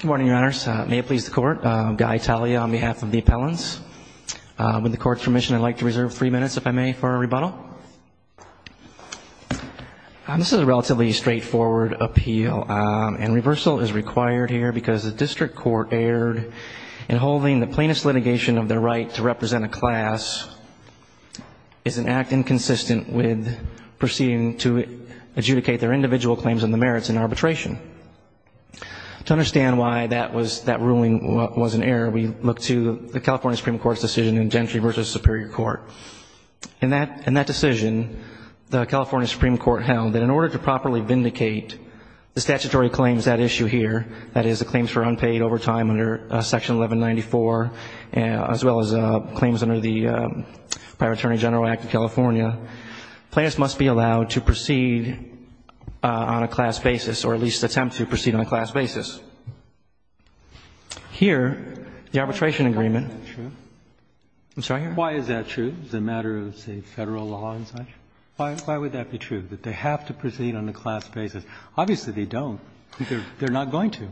Good morning, your honors. May it please the court, Guy Talia on behalf of the appellants. With the court's permission, I'd like to reserve three minutes, if I may, for a rebuttal. This is a relatively straightforward appeal, and reversal is required here because the district court erred in holding the plainest litigation of the right to represent a class is an act inconsistent with proceeding to adjudicate their individual claims on the merits in arbitration. To understand why that ruling was an error, we look to the California Supreme Court's decision in Gentry v. Superior Court. In that decision, the California Supreme Court held that in order to properly vindicate the statutory claims at issue here, that is, the claims for unpaid overtime under Section 1194, as well as claims under the Prior Attorney General Act of California, plaintiffs must be allowed to proceed on a class basis or at least attempt to proceed on a class basis. Here, the arbitration agreement. Why is that true? I'm sorry? Why is that true as a matter of, say, Federal law and such? Why would that be true, that they have to proceed on a class basis? Obviously, they don't. They're not going to.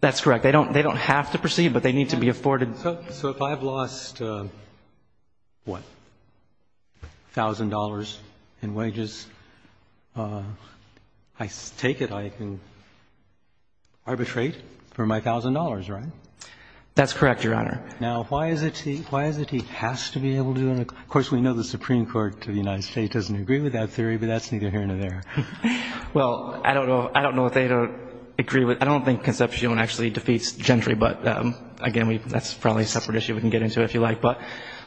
That's correct. They don't have to proceed, but they need to be afforded. So if I have lost, what, $1,000 in wages, I take it I can arbitrate for my $1,000, right? That's correct, Your Honor. Now, why is it he has to be able to? Of course, we know the Supreme Court of the United States doesn't agree with that theory, but that's neither here nor there. Well, I don't know what they don't agree with. I don't think Concepcion actually defeats Gentry, but, again, that's probably a separate issue we can get into, if you like. But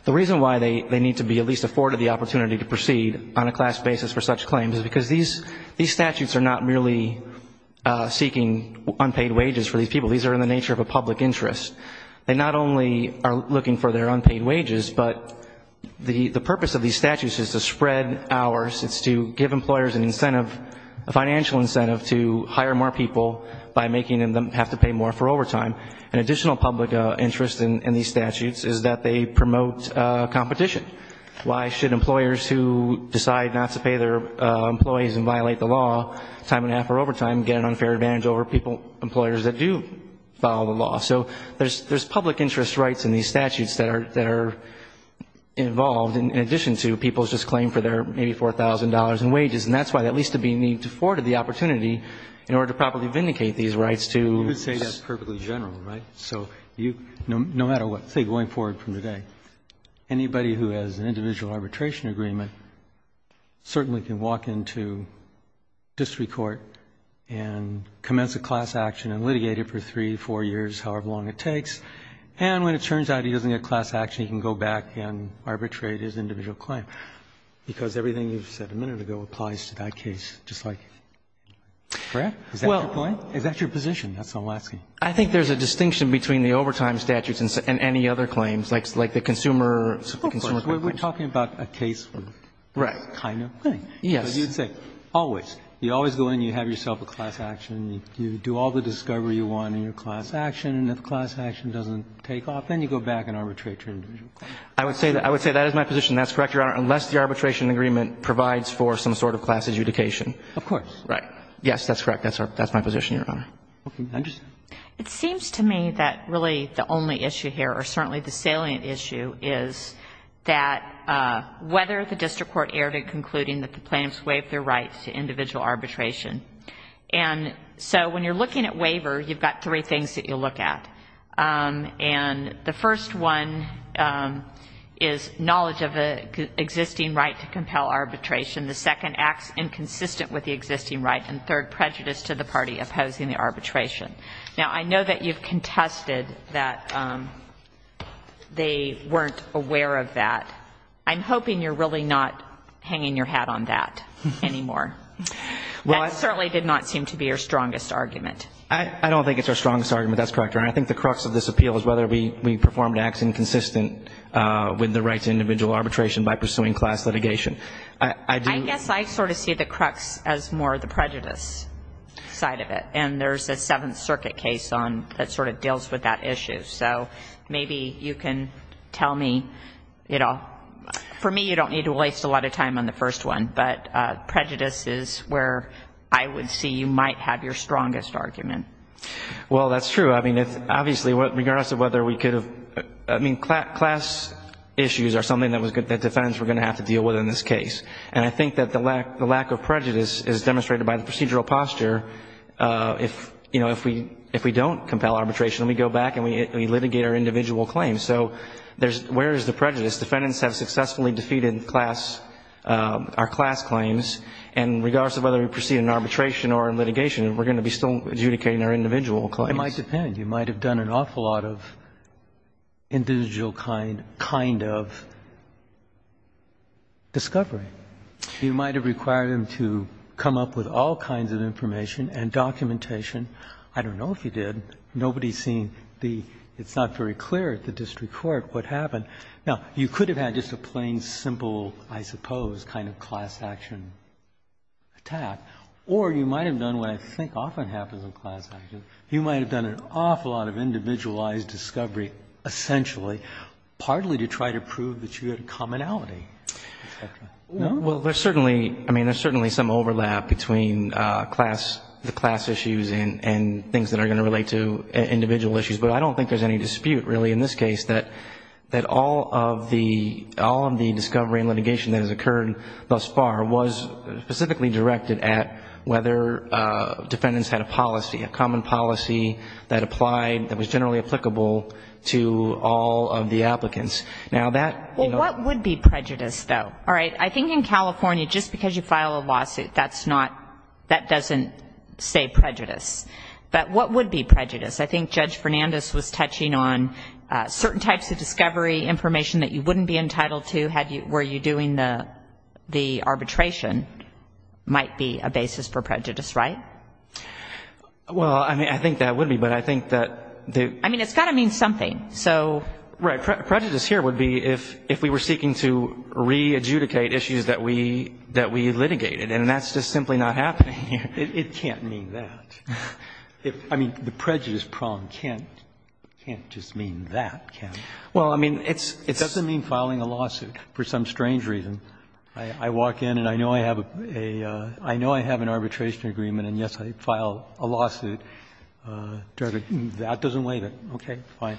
the reason why they need to be at least afforded the opportunity to proceed on a class basis for such claims is because these statutes are not merely seeking unpaid wages for these people. These are in the nature of a public interest. They not only are looking for their unpaid wages, but the purpose of these statutes is to spread hours. It's to give employers an incentive, a financial incentive to hire more people by making them have to pay more for overtime. An additional public interest in these statutes is that they promote competition. Why should employers who decide not to pay their employees and violate the law time and a half for overtime get an unfair advantage over people, employers that do follow the law? So there's public interest rights in these statutes that are involved, in addition to people's just claim for their $84,000 in wages. And that's why they at least need to be afforded the opportunity in order to properly vindicate these rights to the state. You could say that's perfectly general, right? So no matter what, say, going forward from today, anybody who has an individual arbitration agreement certainly can walk into district court and commence a class action and litigate it for three, four years, however long it takes. And when it turns out he doesn't get class action, he can go back and arbitrate his individual claim, because everything you've said a minute ago applies to that case just like that. Correct? Is that your point? Is that your position? That's all I'm asking. I think there's a distinction between the overtime statutes and any other claims, like the consumer claims. Of course. We're talking about a case kind of thing. Yes. You'd say always. You always go in. You have yourself a class action. You do all the discovery you want in your class action, and if class action doesn't take off, then you go back and arbitrate your individual claim. I would say that is my position. That's correct, Your Honor, unless the arbitration agreement provides for some sort of class adjudication. Of course. Right. Yes, that's correct. That's my position, Your Honor. Okay. I understand. It seems to me that really the only issue here, or certainly the salient issue, is that whether the district court erred in concluding that the plaintiffs waived their rights to individual arbitration. And so when you're looking at waiver, you've got three things that you look at. And the first one is knowledge of an existing right to compel arbitration. The second, acts inconsistent with the existing right. And third, prejudice to the party opposing the arbitration. Now, I know that you've contested that they weren't aware of that. I'm hoping you're really not hanging your hat on that anymore. That certainly did not seem to be your strongest argument. I don't think it's our strongest argument. That's correct, Your Honor. I think the crux of this appeal is whether we performed acts inconsistent with the rights to individual arbitration by pursuing class litigation. I do. I guess I sort of see the crux as more the prejudice side of it. And there's a Seventh Circuit case that sort of deals with that issue. So maybe you can tell me. For me, you don't need to waste a lot of time on the first one. But prejudice is where I would see you might have your strongest argument. Well, that's true. I mean, obviously, regardless of whether we could have ‑‑ I mean, class issues are something that defendants were going to have to deal with in this case. And I think that the lack of prejudice is demonstrated by the procedural posture. If we don't compel arbitration, we go back and we litigate our individual claims. So where is the prejudice? Defendants have successfully defeated our class claims. And regardless of whether we proceed in arbitration or in litigation, we're going to be still adjudicating our individual claims. It might depend. You might have done an awful lot of individual kind of discovery. You might have required them to come up with all kinds of information and documentation. I don't know if you did. Nobody's seen the ‑‑ it's not very clear at the district court what happened. Now, you could have had just a plain, simple, I suppose, kind of class action attack. Or you might have done what I think often happens in class action. You might have done an awful lot of individualized discovery, essentially, partly to try to prove that you had a commonality, et cetera. Well, there's certainly some overlap between the class issues and things that are going to relate to individual issues. But I don't think there's any dispute, really, in this case, that all of the discovery and litigation that has occurred thus far was specifically directed at whether defendants had a policy, a common policy that applied, that was generally applicable to all of the applicants. Now, that, you know ‑‑ Well, what would be prejudice, though? All right, I think in California, just because you file a lawsuit, that's not ‑‑ that doesn't say prejudice. But what would be prejudice? I think Judge Fernandez was touching on certain types of discovery information that you wouldn't be entitled to had you ‑‑ were you doing the arbitration might be a basis for prejudice, right? Well, I mean, I think that would be, but I think that the ‑‑ I mean, it's got to mean something. So ‑‑ Right. Prejudice here would be if we were seeking to re-adjudicate issues that we litigated. And that's just simply not happening here. It can't mean that. I mean, the prejudice prong can't just mean that, can it? Well, I mean, it's ‑‑ It doesn't mean filing a lawsuit for some strange reason. I walk in and I know I have a ‑‑ I know I have an arbitration agreement and, yes, I file a lawsuit. That doesn't waive it. Okay, fine.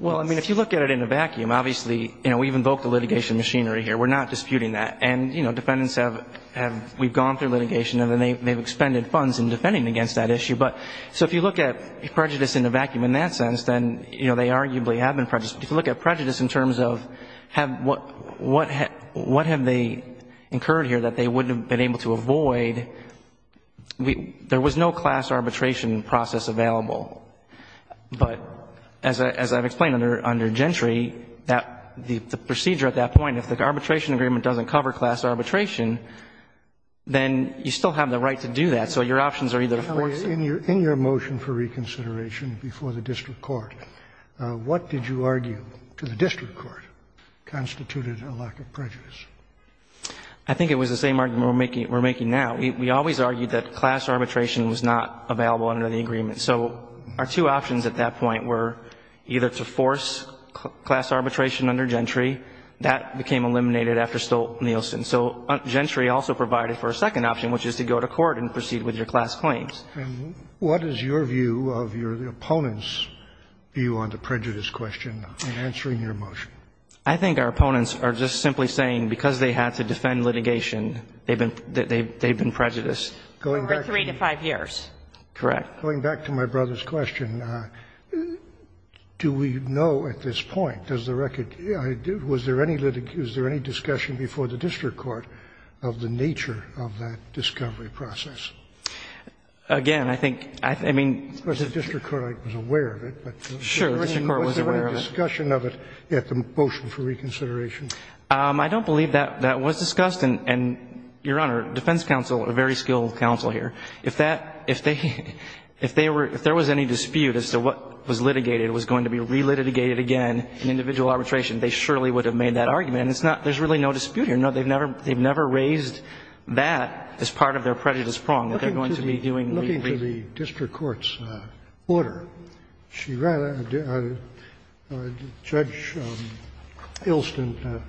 Well, I mean, if you look at it in a vacuum, obviously, you know, we've invoked the litigation machinery here. We're not disputing that. And, you know, defendants have ‑‑ we've gone through litigation and they've expended funds in defending against that issue. But so if you look at prejudice in a vacuum in that sense, then, you know, they arguably have been prejudiced. If you look at prejudice in terms of what have they incurred here that they wouldn't have been able to avoid, there was no class arbitration process available. But as I've explained under Gentry, the procedure at that point, if the arbitration agreement doesn't cover class arbitration, then you still have the right to do that. So your options are either, of course ‑‑ In your motion for reconsideration before the district court, what did you argue to the district court constituted a lack of prejudice? I think it was the same argument we're making now. We always argued that class arbitration was not available under the agreement. So our two options at that point were either to force class arbitration under Gentry. That became eliminated after Stolt-Nielsen. So Gentry also provided for a second option, which is to go to court and proceed with your class claims. And what is your view of your opponent's view on the prejudice question in answering your motion? I think our opponents are just simply saying because they had to defend litigation, they've been prejudiced. Over three to five years. Correct. Going back to my brother's question, do we know at this point, was there any discussion before the district court of the nature of that discovery process? Again, I think, I mean ‑‑ Of course, the district court was aware of it. Sure, the district court was aware of it. Was there any discussion of it at the motion for reconsideration? I don't believe that was discussed. And, Your Honor, defense counsel, a very skilled counsel here, if that, if they were, if there was any dispute as to what was litigated was going to be re-litigated again in individual arbitration, they surely would have made that argument. And it's not, there's really no dispute here. No, they've never, they've never raised that as part of their prejudice prong, that they're going to be doing ‑‑ Looking to the district court's order, Judge Ilston said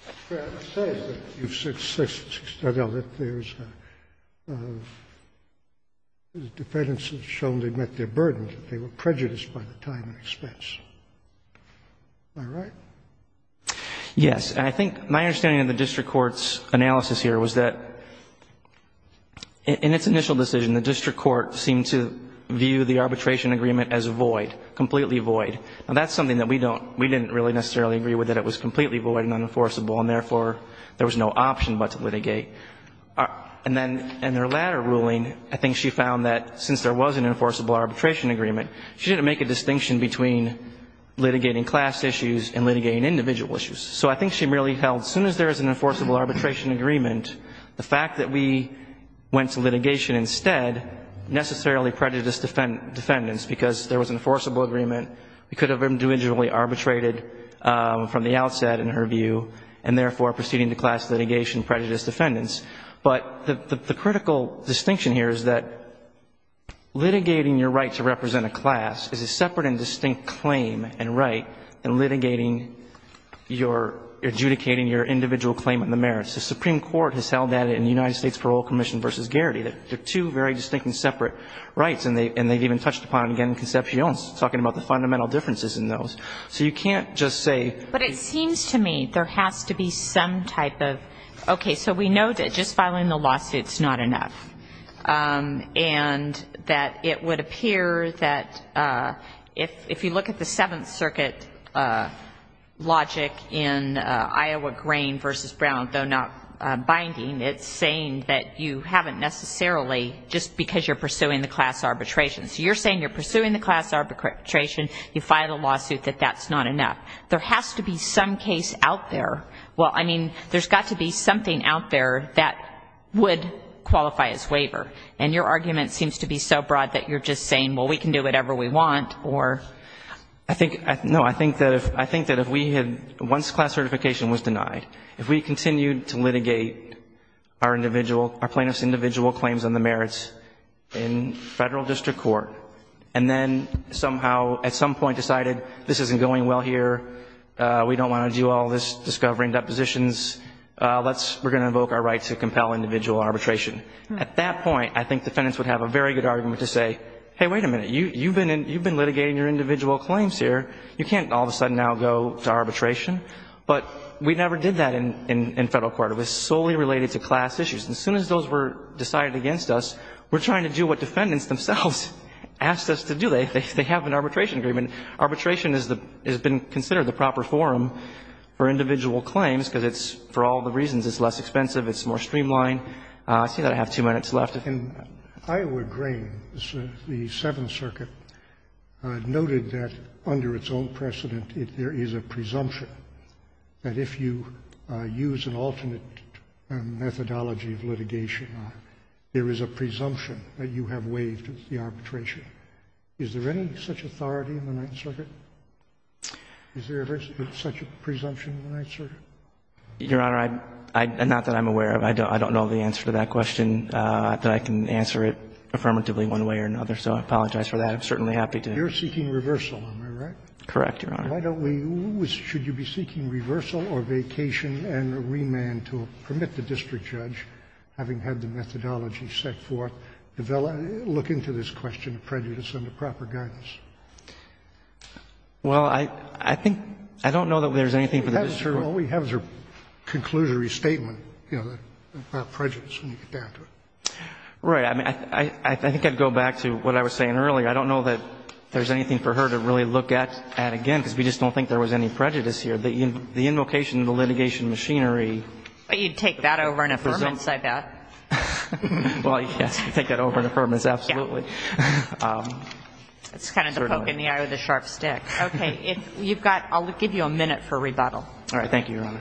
that if there's a, if there's a dispute, the defense has shown they've met their burden, that they were prejudiced by the time and expense. Am I right? Yes. And I think my understanding of the district court's analysis here was that in its initial decision, the district court seemed to view the arbitration agreement as void, completely void. Now, that's something that we don't, we didn't really necessarily agree with, that it was completely void and unenforceable, and therefore, there was no option but to litigate. And then in her latter ruling, I think she found that since there was an enforceable arbitration agreement, she didn't make a distinction between litigating class issues and litigating individual issues. So I think she really held, as soon as there is an enforceable arbitration agreement, the fact that we went to litigation instead necessarily prejudiced defendants, because there was an enforceable agreement, we could have individually arbitrated from the outset in her view, and therefore, proceeding to class litigation was a separate and distinct claim and right than litigating your, adjudicating your individual claimant in the merits. The Supreme Court has held that in the United States Parole Commission v. Garrity, that they're two very distinct and separate rights, and they've even touched upon it again in Concepcion, talking about the fundamental differences in those. So you can't just say. But it seems to me there has to be some type of, okay, we're going to have to have Okay, so we know that just filing the lawsuit is not enough. And that it would appear that if you look at the Seventh Circuit logic in Iowa Grain v. Brown, though not binding, it's saying that you haven't necessarily, just because you're pursuing the class arbitration. So you're saying you're pursuing the class arbitration, you file a lawsuit that that's not enough. There has to be some case out there. Well, I mean, there's got to be something out there that would qualify as waiver. And your argument seems to be so broad that you're just saying, well, we can do whatever we want, or. No, I think that if we had, once class certification was denied, if we continued to litigate our individual, our plaintiff's individual claims on the merits in federal district court, and then somehow at some point decided this isn't going well here, we don't want to do all this discovering depositions, we're going to invoke our right to compel individual arbitration. At that point, I think defendants would have a very good argument to say, hey, wait a minute, you've been litigating your individual claims here. You can't all of a sudden now go to arbitration. But we never did that in federal court. It was solely related to class issues. And as soon as those were decided against us, we're trying to do what defendants themselves asked us to do. They have an arbitration agreement. And arbitration has been considered the proper forum for individual claims, because it's, for all the reasons, it's less expensive, it's more streamlined. I see that I have two minutes left. Scalia. In Iowa Grain, the Seventh Circuit noted that under its own precedent, there is a presumption that if you use an alternate methodology of litigation, there is a presumption that you have waived the arbitration. Is there any such authority in the Ninth Circuit? Is there such a presumption in the Ninth Circuit? Your Honor, I'm not that I'm aware of. I don't know the answer to that question. But I can answer it affirmatively one way or another. So I apologize for that. I'm certainly happy to. You're seeking reversal, am I right? Correct, Your Honor. Why don't we, should you be seeking reversal or vacation and remand to permit the district judge, having had the methodology set forth, develop, look into this question of prejudice under proper guidance? Well, I think, I don't know that there's anything for the district. All we have is her conclusory statement, you know, about prejudice when you get down to it. Right. I mean, I think I'd go back to what I was saying earlier. I don't know that there's anything for her to really look at again, because we just don't think there was any prejudice here. The invocation of the litigation machinery. But you'd take that over in affirmance, I bet. Well, yes, you'd take that over in affirmance, absolutely. That's kind of the poke in the eye with a sharp stick. Okay. You've got, I'll give you a minute for rebuttal. All right. Thank you, Your Honor.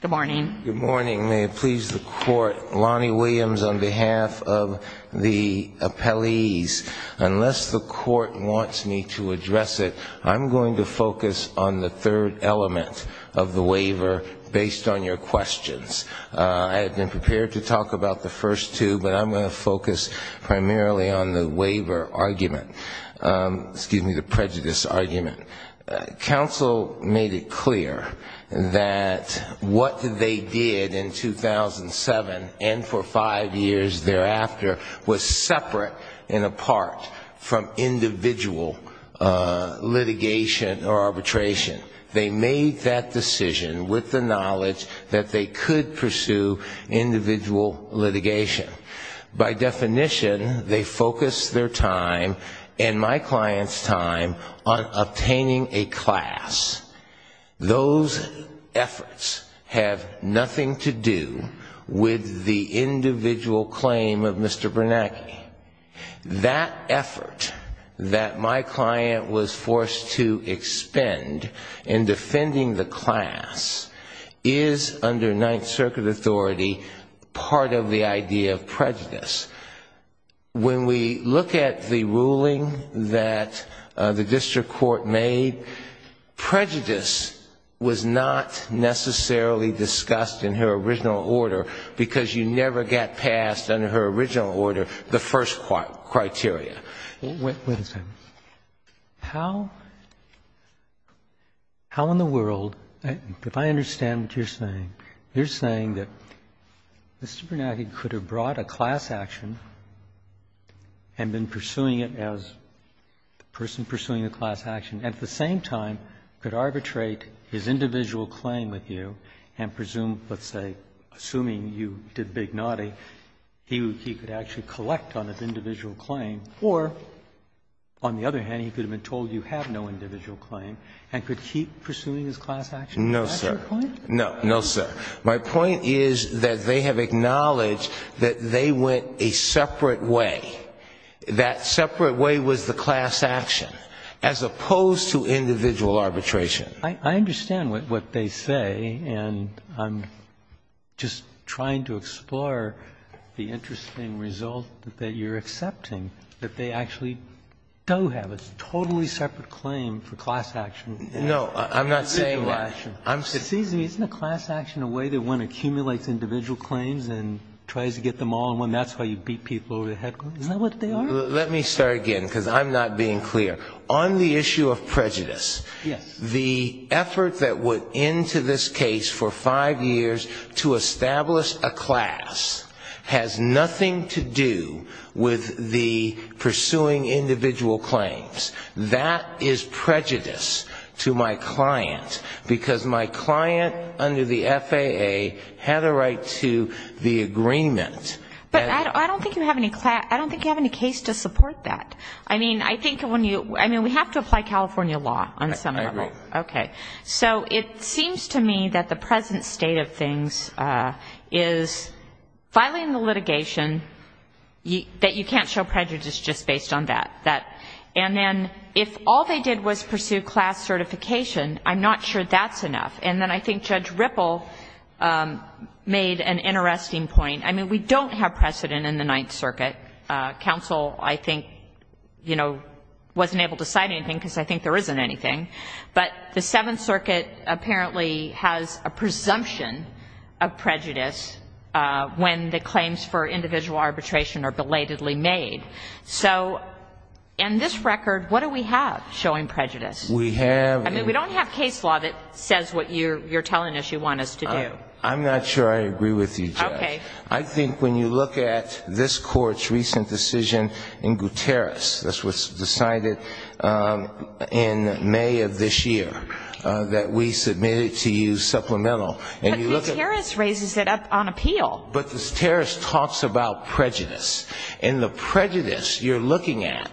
Good morning. Good morning. May it please the Court. Lonnie Williams on behalf of the appellees. Unless the Court wants me to address it, I'm going to focus on the third element of the waiver based on your questions. I have been prepared to talk about the first two, but I'm going to focus primarily on the waiver argument. Excuse me, the prejudice argument. Counsel made it clear that what they did in 2007 and for five years thereafter was separate and apart from individual litigation or arbitration. They made that decision with the knowledge that they could pursue individual litigation. By definition, they focused their time and my client's time on obtaining a class. Those efforts have nothing to do with the individual claim of Mr. Bernanke. That effort that my client was forced to expend in defending the class is under Ninth Circuit authority part of the idea of prejudice. When we look at the ruling that the district court made, prejudice was not necessarily discussed in her original order because you never got passed under her original order the first criteria. Wait a second. How in the world, if I understand what you're saying, you're saying that Mr. Bernanke could have brought a class action and been pursuing it as the person pursuing the class action, at the same time could arbitrate his individual claim with you and presume, let's say, assuming you did Big Naughty, he could actually collect on his individual claim or, on the other hand, he could have been told you have no individual claim and could keep pursuing his class action? Is that your point? No, sir. My point is that they have acknowledged that they went a separate way. That separate way was the class action, as opposed to individual arbitration. I understand what they say, and I'm just trying to explore the interesting result that you're accepting, that they actually do have a totally separate claim for class action. No, I'm not saying that. It's easy. Isn't a class action a way that one accumulates individual claims and tries to get them all, and that's how you beat people over the head? Isn't that what they are? Let me start again, because I'm not being clear. On the issue of prejudice, the effort that went into this case for five years to establish a class has nothing to do with the pursuing individual claims. That is prejudice to my client, because my client under the FAA had a right to the agreement. But I don't think you have any case to support that. I mean, I think when you we have to apply California law on some level. I agree. Okay. So it seems to me that the present state of things is filing the litigation, that you can't show prejudice just based on that. And then if all they did was pursue class certification, I'm not sure that's enough. And then I think Judge Ripple made an interesting point. I mean, we don't have precedent in the Ninth Circuit. Counsel, I think, you know, wasn't able to cite anything, because I think there isn't anything. So in this record, what do we have showing prejudice? We have. I mean, we don't have case law that says what you're telling us you want us to do. I'm not sure I agree with you, Judge. Okay. I think when you look at this Court's recent decision in Gutierrez, that's what's decided in May of this year, that we submitted to you supplemental. But Gutierrez raises it up on appeal. But Gutierrez talks about prejudice. And the prejudice you're looking at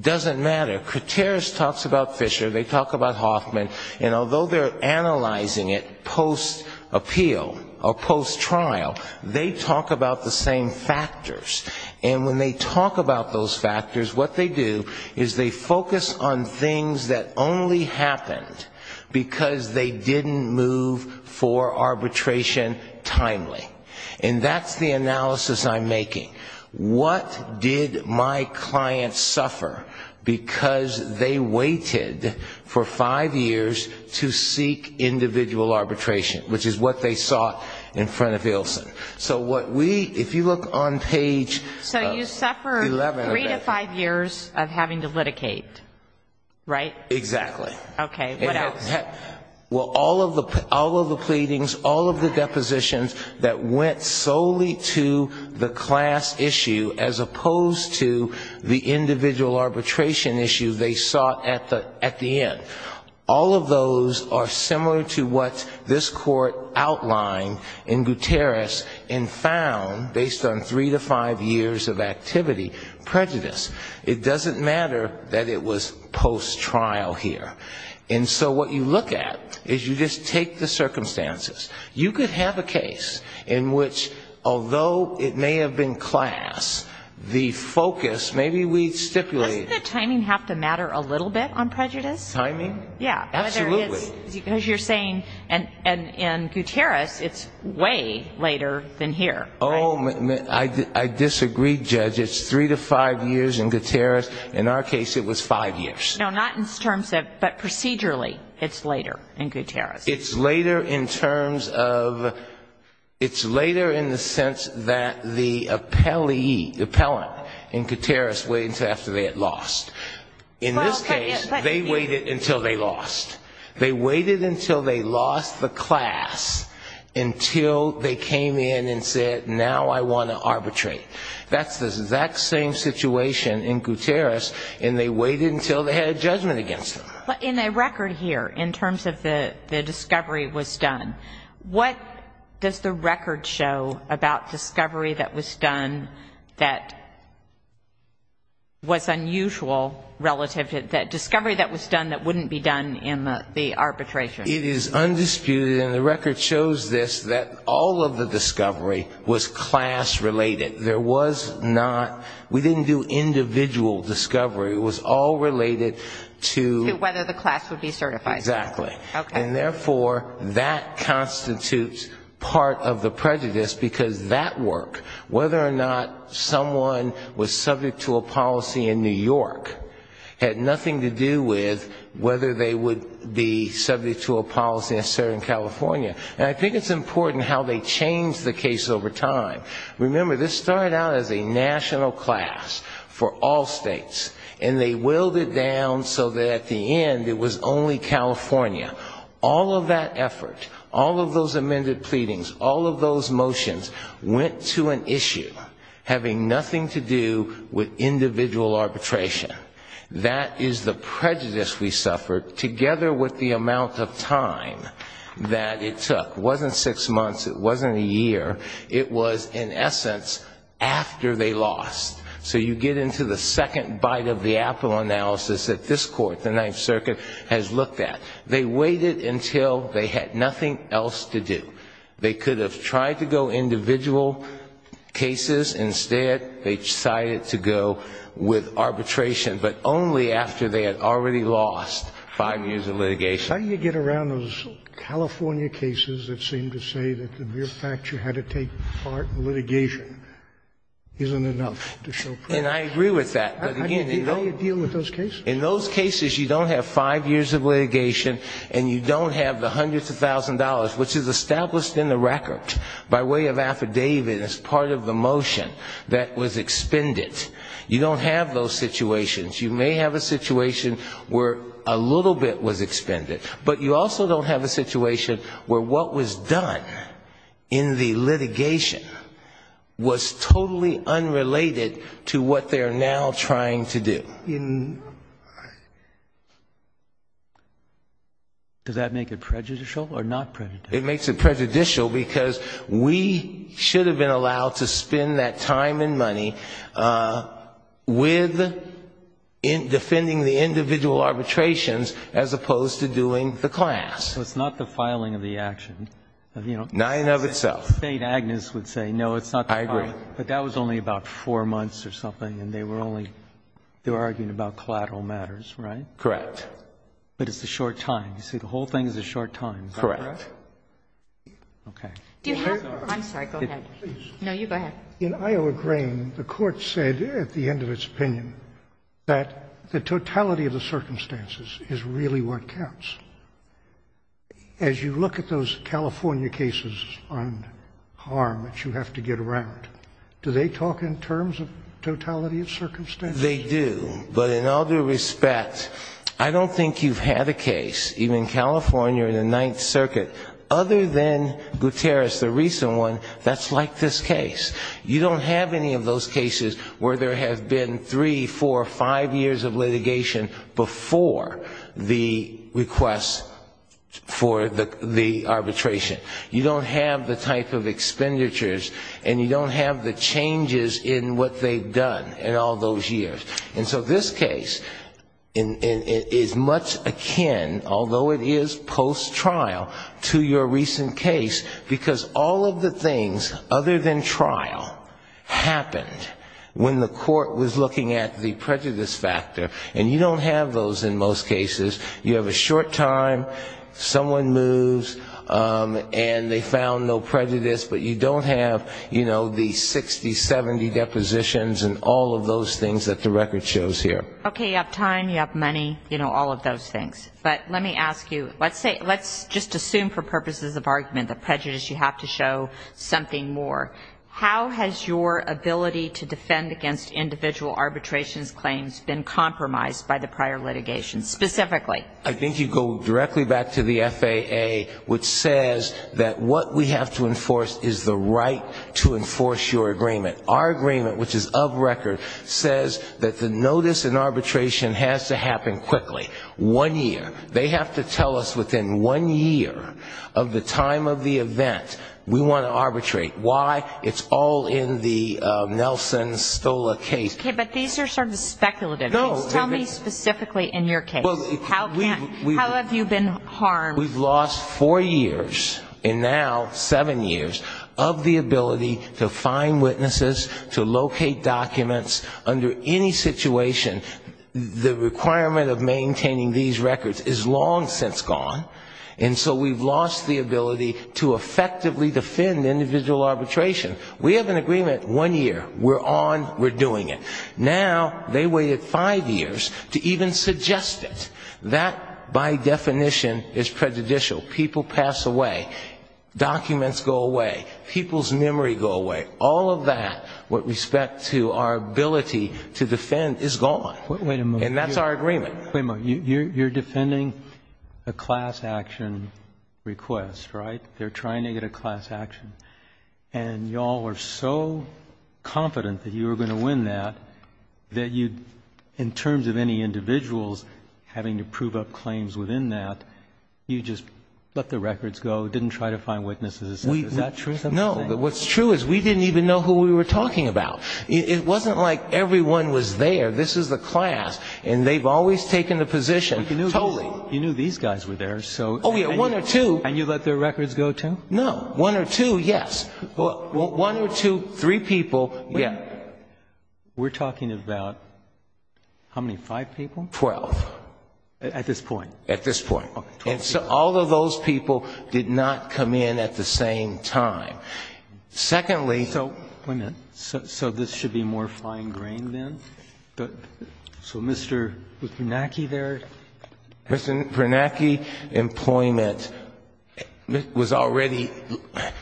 doesn't matter. Gutierrez talks about Fisher, they talk about Hoffman, and although they're analyzing it post-appeal or post-trial, they talk about the same factors. And when they talk about those factors, what they do is they focus on things that only happened because they didn't move for arbitration timely. And that's the analysis I'm making. What did my clients suffer because they waited for five years to seek individual arbitration, which is what they saw in front of Ilsen? So what we, if you look on page 11 of that. So you suffered three to five years of having to litigate, right? Exactly. Okay. What else? Well, all of the pleadings, all of the depositions that went solely to the class issue as opposed to the individual arbitration issue they sought at the end, all of those are similar to what this court outlined in Gutierrez and found, based on three to five years of activity, prejudice. It doesn't matter that it was post-trial here. And so what you look at is you just take the circumstances. You could have a case in which, although it may have been class, the focus, maybe we stipulated. Doesn't the timing have to matter a little bit on prejudice? Timing? Yeah. Absolutely. Because you're saying in Gutierrez it's way later than here. Oh, I disagree, Judge. It's three to five years in Gutierrez. In our case it was five years. No, not in terms of, but procedurally it's later in Gutierrez. It's later in terms of, it's later in the sense that the appellee, the appellant in Gutierrez waits after they had lost. In this case, they waited until they lost. They waited until they lost the class until they came in and said, now I want to arbitrate. That's the exact same situation in Gutierrez, and they waited until they had judgment against them. In the record here, in terms of the discovery was done, what does the record show about discovery that was done that was unusual relative to that discovery that was done that wouldn't be done in the arbitration? It is undisputed, and the record shows this, that all of the discovery was class-related. There was not, we didn't do individual discovery. It was all related to... To whether the class would be certified. Exactly. Okay. And therefore, that constitutes part of the prejudice, because that work, whether or not someone was subject to a policy in New York, had nothing to do with whether they would be subject to a policy in Southern California. And I think it's important how they change the case over time. Remember, this started out as a national class for all states, and they whittled it down so that at the end it was only California. All of that effort, all of those amended pleadings, all of those motions went to an issue having nothing to do with individual arbitration. That is the prejudice we suffered, together with the amount of time that it took. It wasn't six months. It wasn't a year. It was, in essence, after they lost. So you get into the second bite of the apple analysis that this court, the Ninth Circuit, has looked at. They waited until they had nothing else to do. They could have tried to go individual cases. Instead, they decided to go with arbitration, but only after they had already lost five years of litigation. How do you get around those California cases that seem to say that the mere fact you had to take part in litigation isn't enough to show prejudice? And I agree with that. How do you deal with those cases? In those cases, you don't have five years of litigation and you don't have the hundreds of thousands of dollars, which is established in the record by way of affidavit as part of the motion that was expended. You don't have those situations. You may have a situation where a little bit was expended, but you also don't have a situation where what was done in the litigation was totally unrelated to what they're now trying to do. Does that make it prejudicial or not prejudicial? It makes it prejudicial because we should have been allowed to spend that time and money with defending the individual arbitrations as opposed to doing the action. It's not the filing of the action. Nine of itself. State Agnes would say no, it's not the filing. I agree. But that was only about four months or something and they were only, they were arguing about collateral matters, right? Correct. But it's a short time. You see, the whole thing is a short time. Correct. Okay. I'm sorry. Go ahead. No, you go ahead. In Iowa Grain, the Court said at the end of its opinion that the totality of the circumstances is really what counts. As you look at those California cases on harm that you have to get around, do they talk in terms of totality of circumstances? They do. But in all due respect, I don't think you've had a case, even California in the Ninth Circuit, other than Guterres, the recent one, that's like this case. You don't have any of those cases where there have been three, four, five years of for the arbitration. You don't have the type of expenditures and you don't have the changes in what they've done in all those years. And so this case is much akin, although it is post-trial, to your recent case, because all of the things other than trial happened when the Court was looking at the prejudice factor. And you don't have those in most cases. You have a short time, someone moves, and they found no prejudice, but you don't have, you know, the 60, 70 depositions and all of those things that the record shows here. Okay. You have time, you have money, you know, all of those things. But let me ask you, let's say, let's just assume for purposes of argument that prejudice, you have to show something more. How has your ability to defend against individual arbitrations claims been compromised by the prior litigation, specifically? I think you go directly back to the FAA, which says that what we have to enforce is the right to enforce your agreement. Our agreement, which is of record, says that the notice in arbitration has to happen quickly. One year. They have to tell us within one year of the time of the event we want to arbitrate. Why? It's all in the Nelson Stola case. Okay. But these are sort of speculative. Tell me specifically in your case. How have you been harmed? We've lost four years, and now seven years, of the ability to find witnesses, to locate documents under any situation. The requirement of maintaining these records is long since gone, and so we've lost the ability to effectively defend individual arbitration. We have an agreement, one year. We're on. We're doing it. Now they waited five years to even suggest it. That, by definition, is prejudicial. People pass away. Documents go away. People's memory go away. All of that, with respect to our ability to defend, is gone. Wait a minute. And that's our agreement. Wait a minute. You're defending a class action request, right? They're trying to get a class action. And you all were so confident that you were going to win that, that you, in terms of any individuals having to prove up claims within that, you just let the records go, didn't try to find witnesses. Is that true? No. What's true is we didn't even know who we were talking about. It wasn't like everyone was there. This is the class, and they've always taken the position. Totally. You knew these guys were there, so. Oh, yeah. One or two. And you let their records go, too? No. One or two, yes. One or two, three people, yeah. We're talking about how many? Five people? Twelve. At this point? At this point. Okay. Twelve people. And so all of those people did not come in at the same time. Secondly, so. Wait a minute. So this should be more fine grain, then? So Mr. Bernanke there. Mr. Bernanke's employment was already,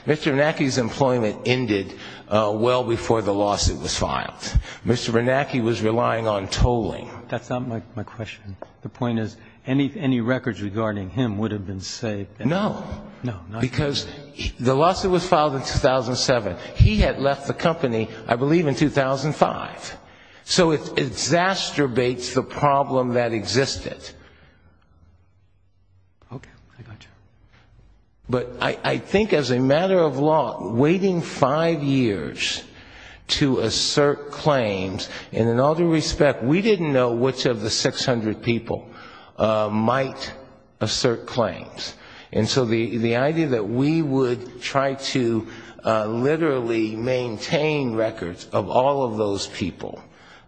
Mr. Bernanke's employment ended well before the lawsuit was filed. Mr. Bernanke was relying on tolling. That's not my question. The point is any records regarding him would have been saved. No. No. Because the lawsuit was filed in 2007. He had left the company, I believe, in 2005. So it exacerbates the problem that existed. Okay. I got you. But I think as a matter of law, waiting five years to assert claims, and in all due respect, we didn't know which of the 600 people might assert claims. And so the idea that we would try to literally maintain records of all of those people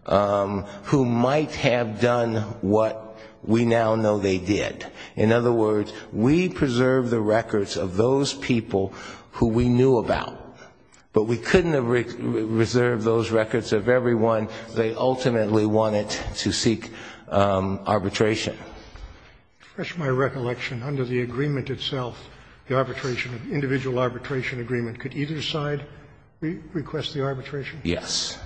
who might have done what we now know they did. In other words, we preserved the records of those people who we knew about. But we couldn't have reserved those records of everyone they ultimately wanted to seek arbitration. To refresh my recollection, under the agreement itself, the arbitration, the individual arbitration agreement, could either side request the arbitration? Yes.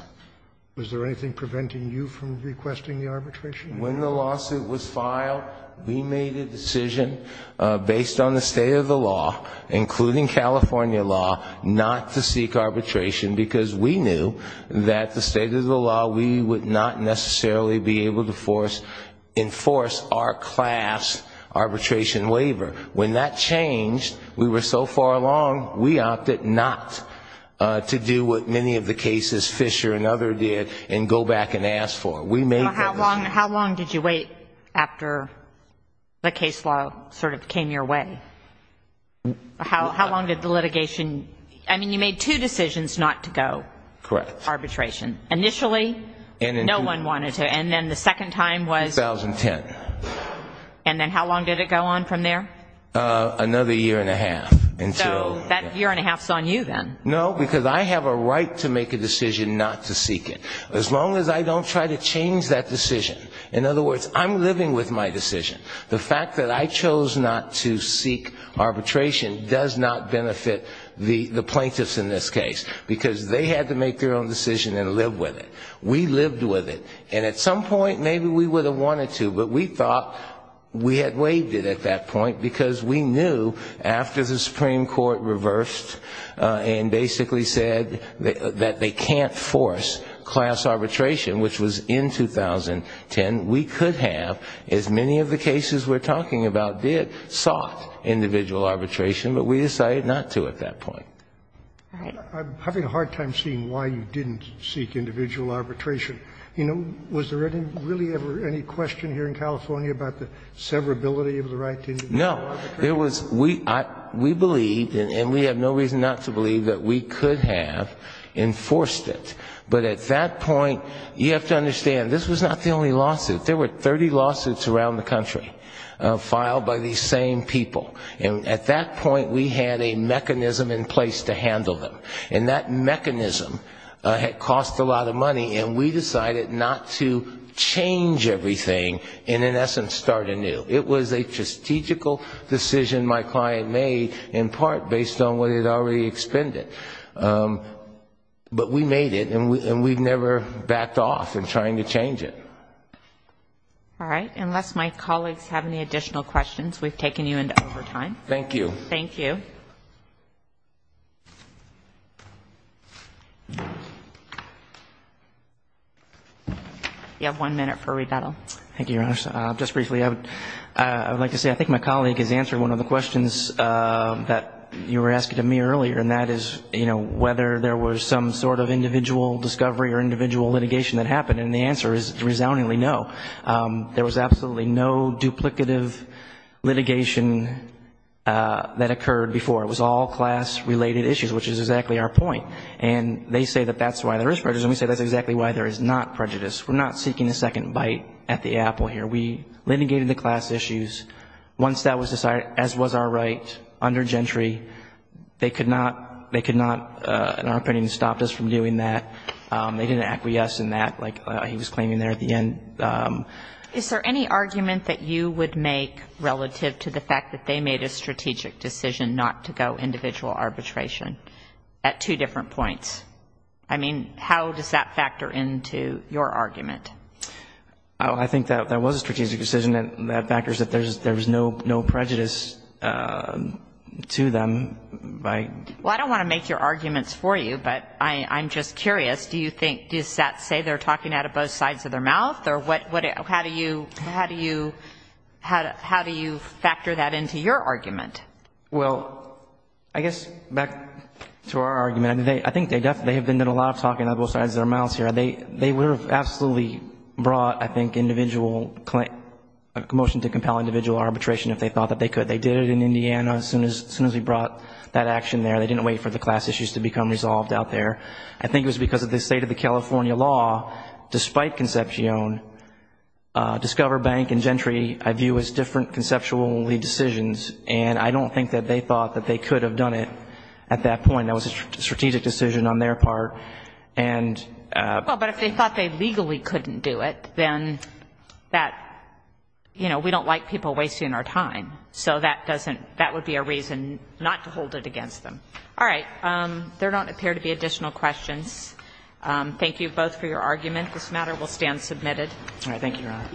Was there anything preventing you from requesting the arbitration? When the lawsuit was filed, we made a decision based on the state of the law, including California law, not to seek arbitration, because we knew that the state of the law, we would not necessarily be able to enforce the arbitration. We would not be able to enforce our class arbitration waiver. When that changed, we were so far along, we opted not to do what many of the cases Fisher and other did, and go back and ask for it. We made that decision. How long did you wait after the case law sort of came your way? How long did the litigation, I mean, you made two decisions not to go. Correct. Arbitration. Initially, no one wanted to. And then the second time was? 2010. And then how long did it go on from there? Another year and a half. So that year and a half is on you then. No, because I have a right to make a decision not to seek it, as long as I don't try to change that decision. In other words, I'm living with my decision. The fact that I chose not to seek arbitration does not benefit the plaintiffs in this case, because they had to make their own decision and live with it. We lived with it. And at some point, maybe we would have wanted to, but we thought we had waived it at that point, because we knew after the Supreme Court reversed and basically said that they can't force class arbitration, which was in 2010, we could have, as many of the cases we're talking about did, sought individual arbitration, but we decided not to at that point. I'm having a hard time seeing why you didn't seek individual arbitration. You know, was there really ever any question here in California about the severability of the right to individual arbitration? No. We believed, and we have no reason not to believe, that we could have enforced it. But at that point, you have to understand, this was not the only lawsuit. There were 30 lawsuits around the country filed by these same people. And at that point, we had a mechanism in place to handle them. And that mechanism had cost a lot of money, and we decided not to change everything and, in essence, start anew. It was a strategical decision my client made, in part based on what he'd already expended. But we made it, and we've never backed off in trying to change it. All right. Unless my colleagues have any additional questions, we've taken you into overtime. Thank you. Thank you. You have one minute for rebuttal. Thank you, Your Honor. Just briefly, I would like to say I think my colleague has answered one of the questions that you were asking to me earlier, and that is, you know, whether there was some sort of individual discovery or individual litigation that happened. And the answer is resoundingly no. There was absolutely no duplicative litigation that occurred before. It was all class-related issues, which is exactly our point. And they say that that's why there is prejudice, and we say that's exactly why there is not prejudice. We're not seeking a second bite at the apple here. We litigated the class issues. Once that was decided, as was our right under Gentry, they could not, in our opinion, stop us from doing that. They didn't acquiesce in that, like he was claiming there at the end. Is there any argument that you would make relative to the fact that they made a strategic decision not to go individual arbitration at two different points? I mean, how does that factor into your argument? I think that was a strategic decision, and that factors that there was no prejudice to them. Well, I don't want to make your arguments for you, but I'm just curious. Do you think, does that say they're talking out of both sides of their mouth? Or how do you factor that into your argument? Well, I guess back to our argument, I think they have been doing a lot of talking out of both sides of their mouths here. They would have absolutely brought, I think, a motion to compel individual arbitration if they thought that they could. They did it in Indiana as soon as we brought that action there. They didn't wait for the class issues to become resolved out there. I think it was because of the state of the California law. Despite Concepcion, Discover Bank and Gentry I view as different conceptual decisions, and I don't think that they thought that they could have done it at that point. That was a strategic decision on their part. Well, but if they thought they legally couldn't do it, then that, you know, we don't like people wasting our time. So that doesn't, that would be a reason not to hold it against them. All right. There don't appear to be additional questions. Thank you both for your argument. This matter will stand submitted. All right. Thank you, Your Honor.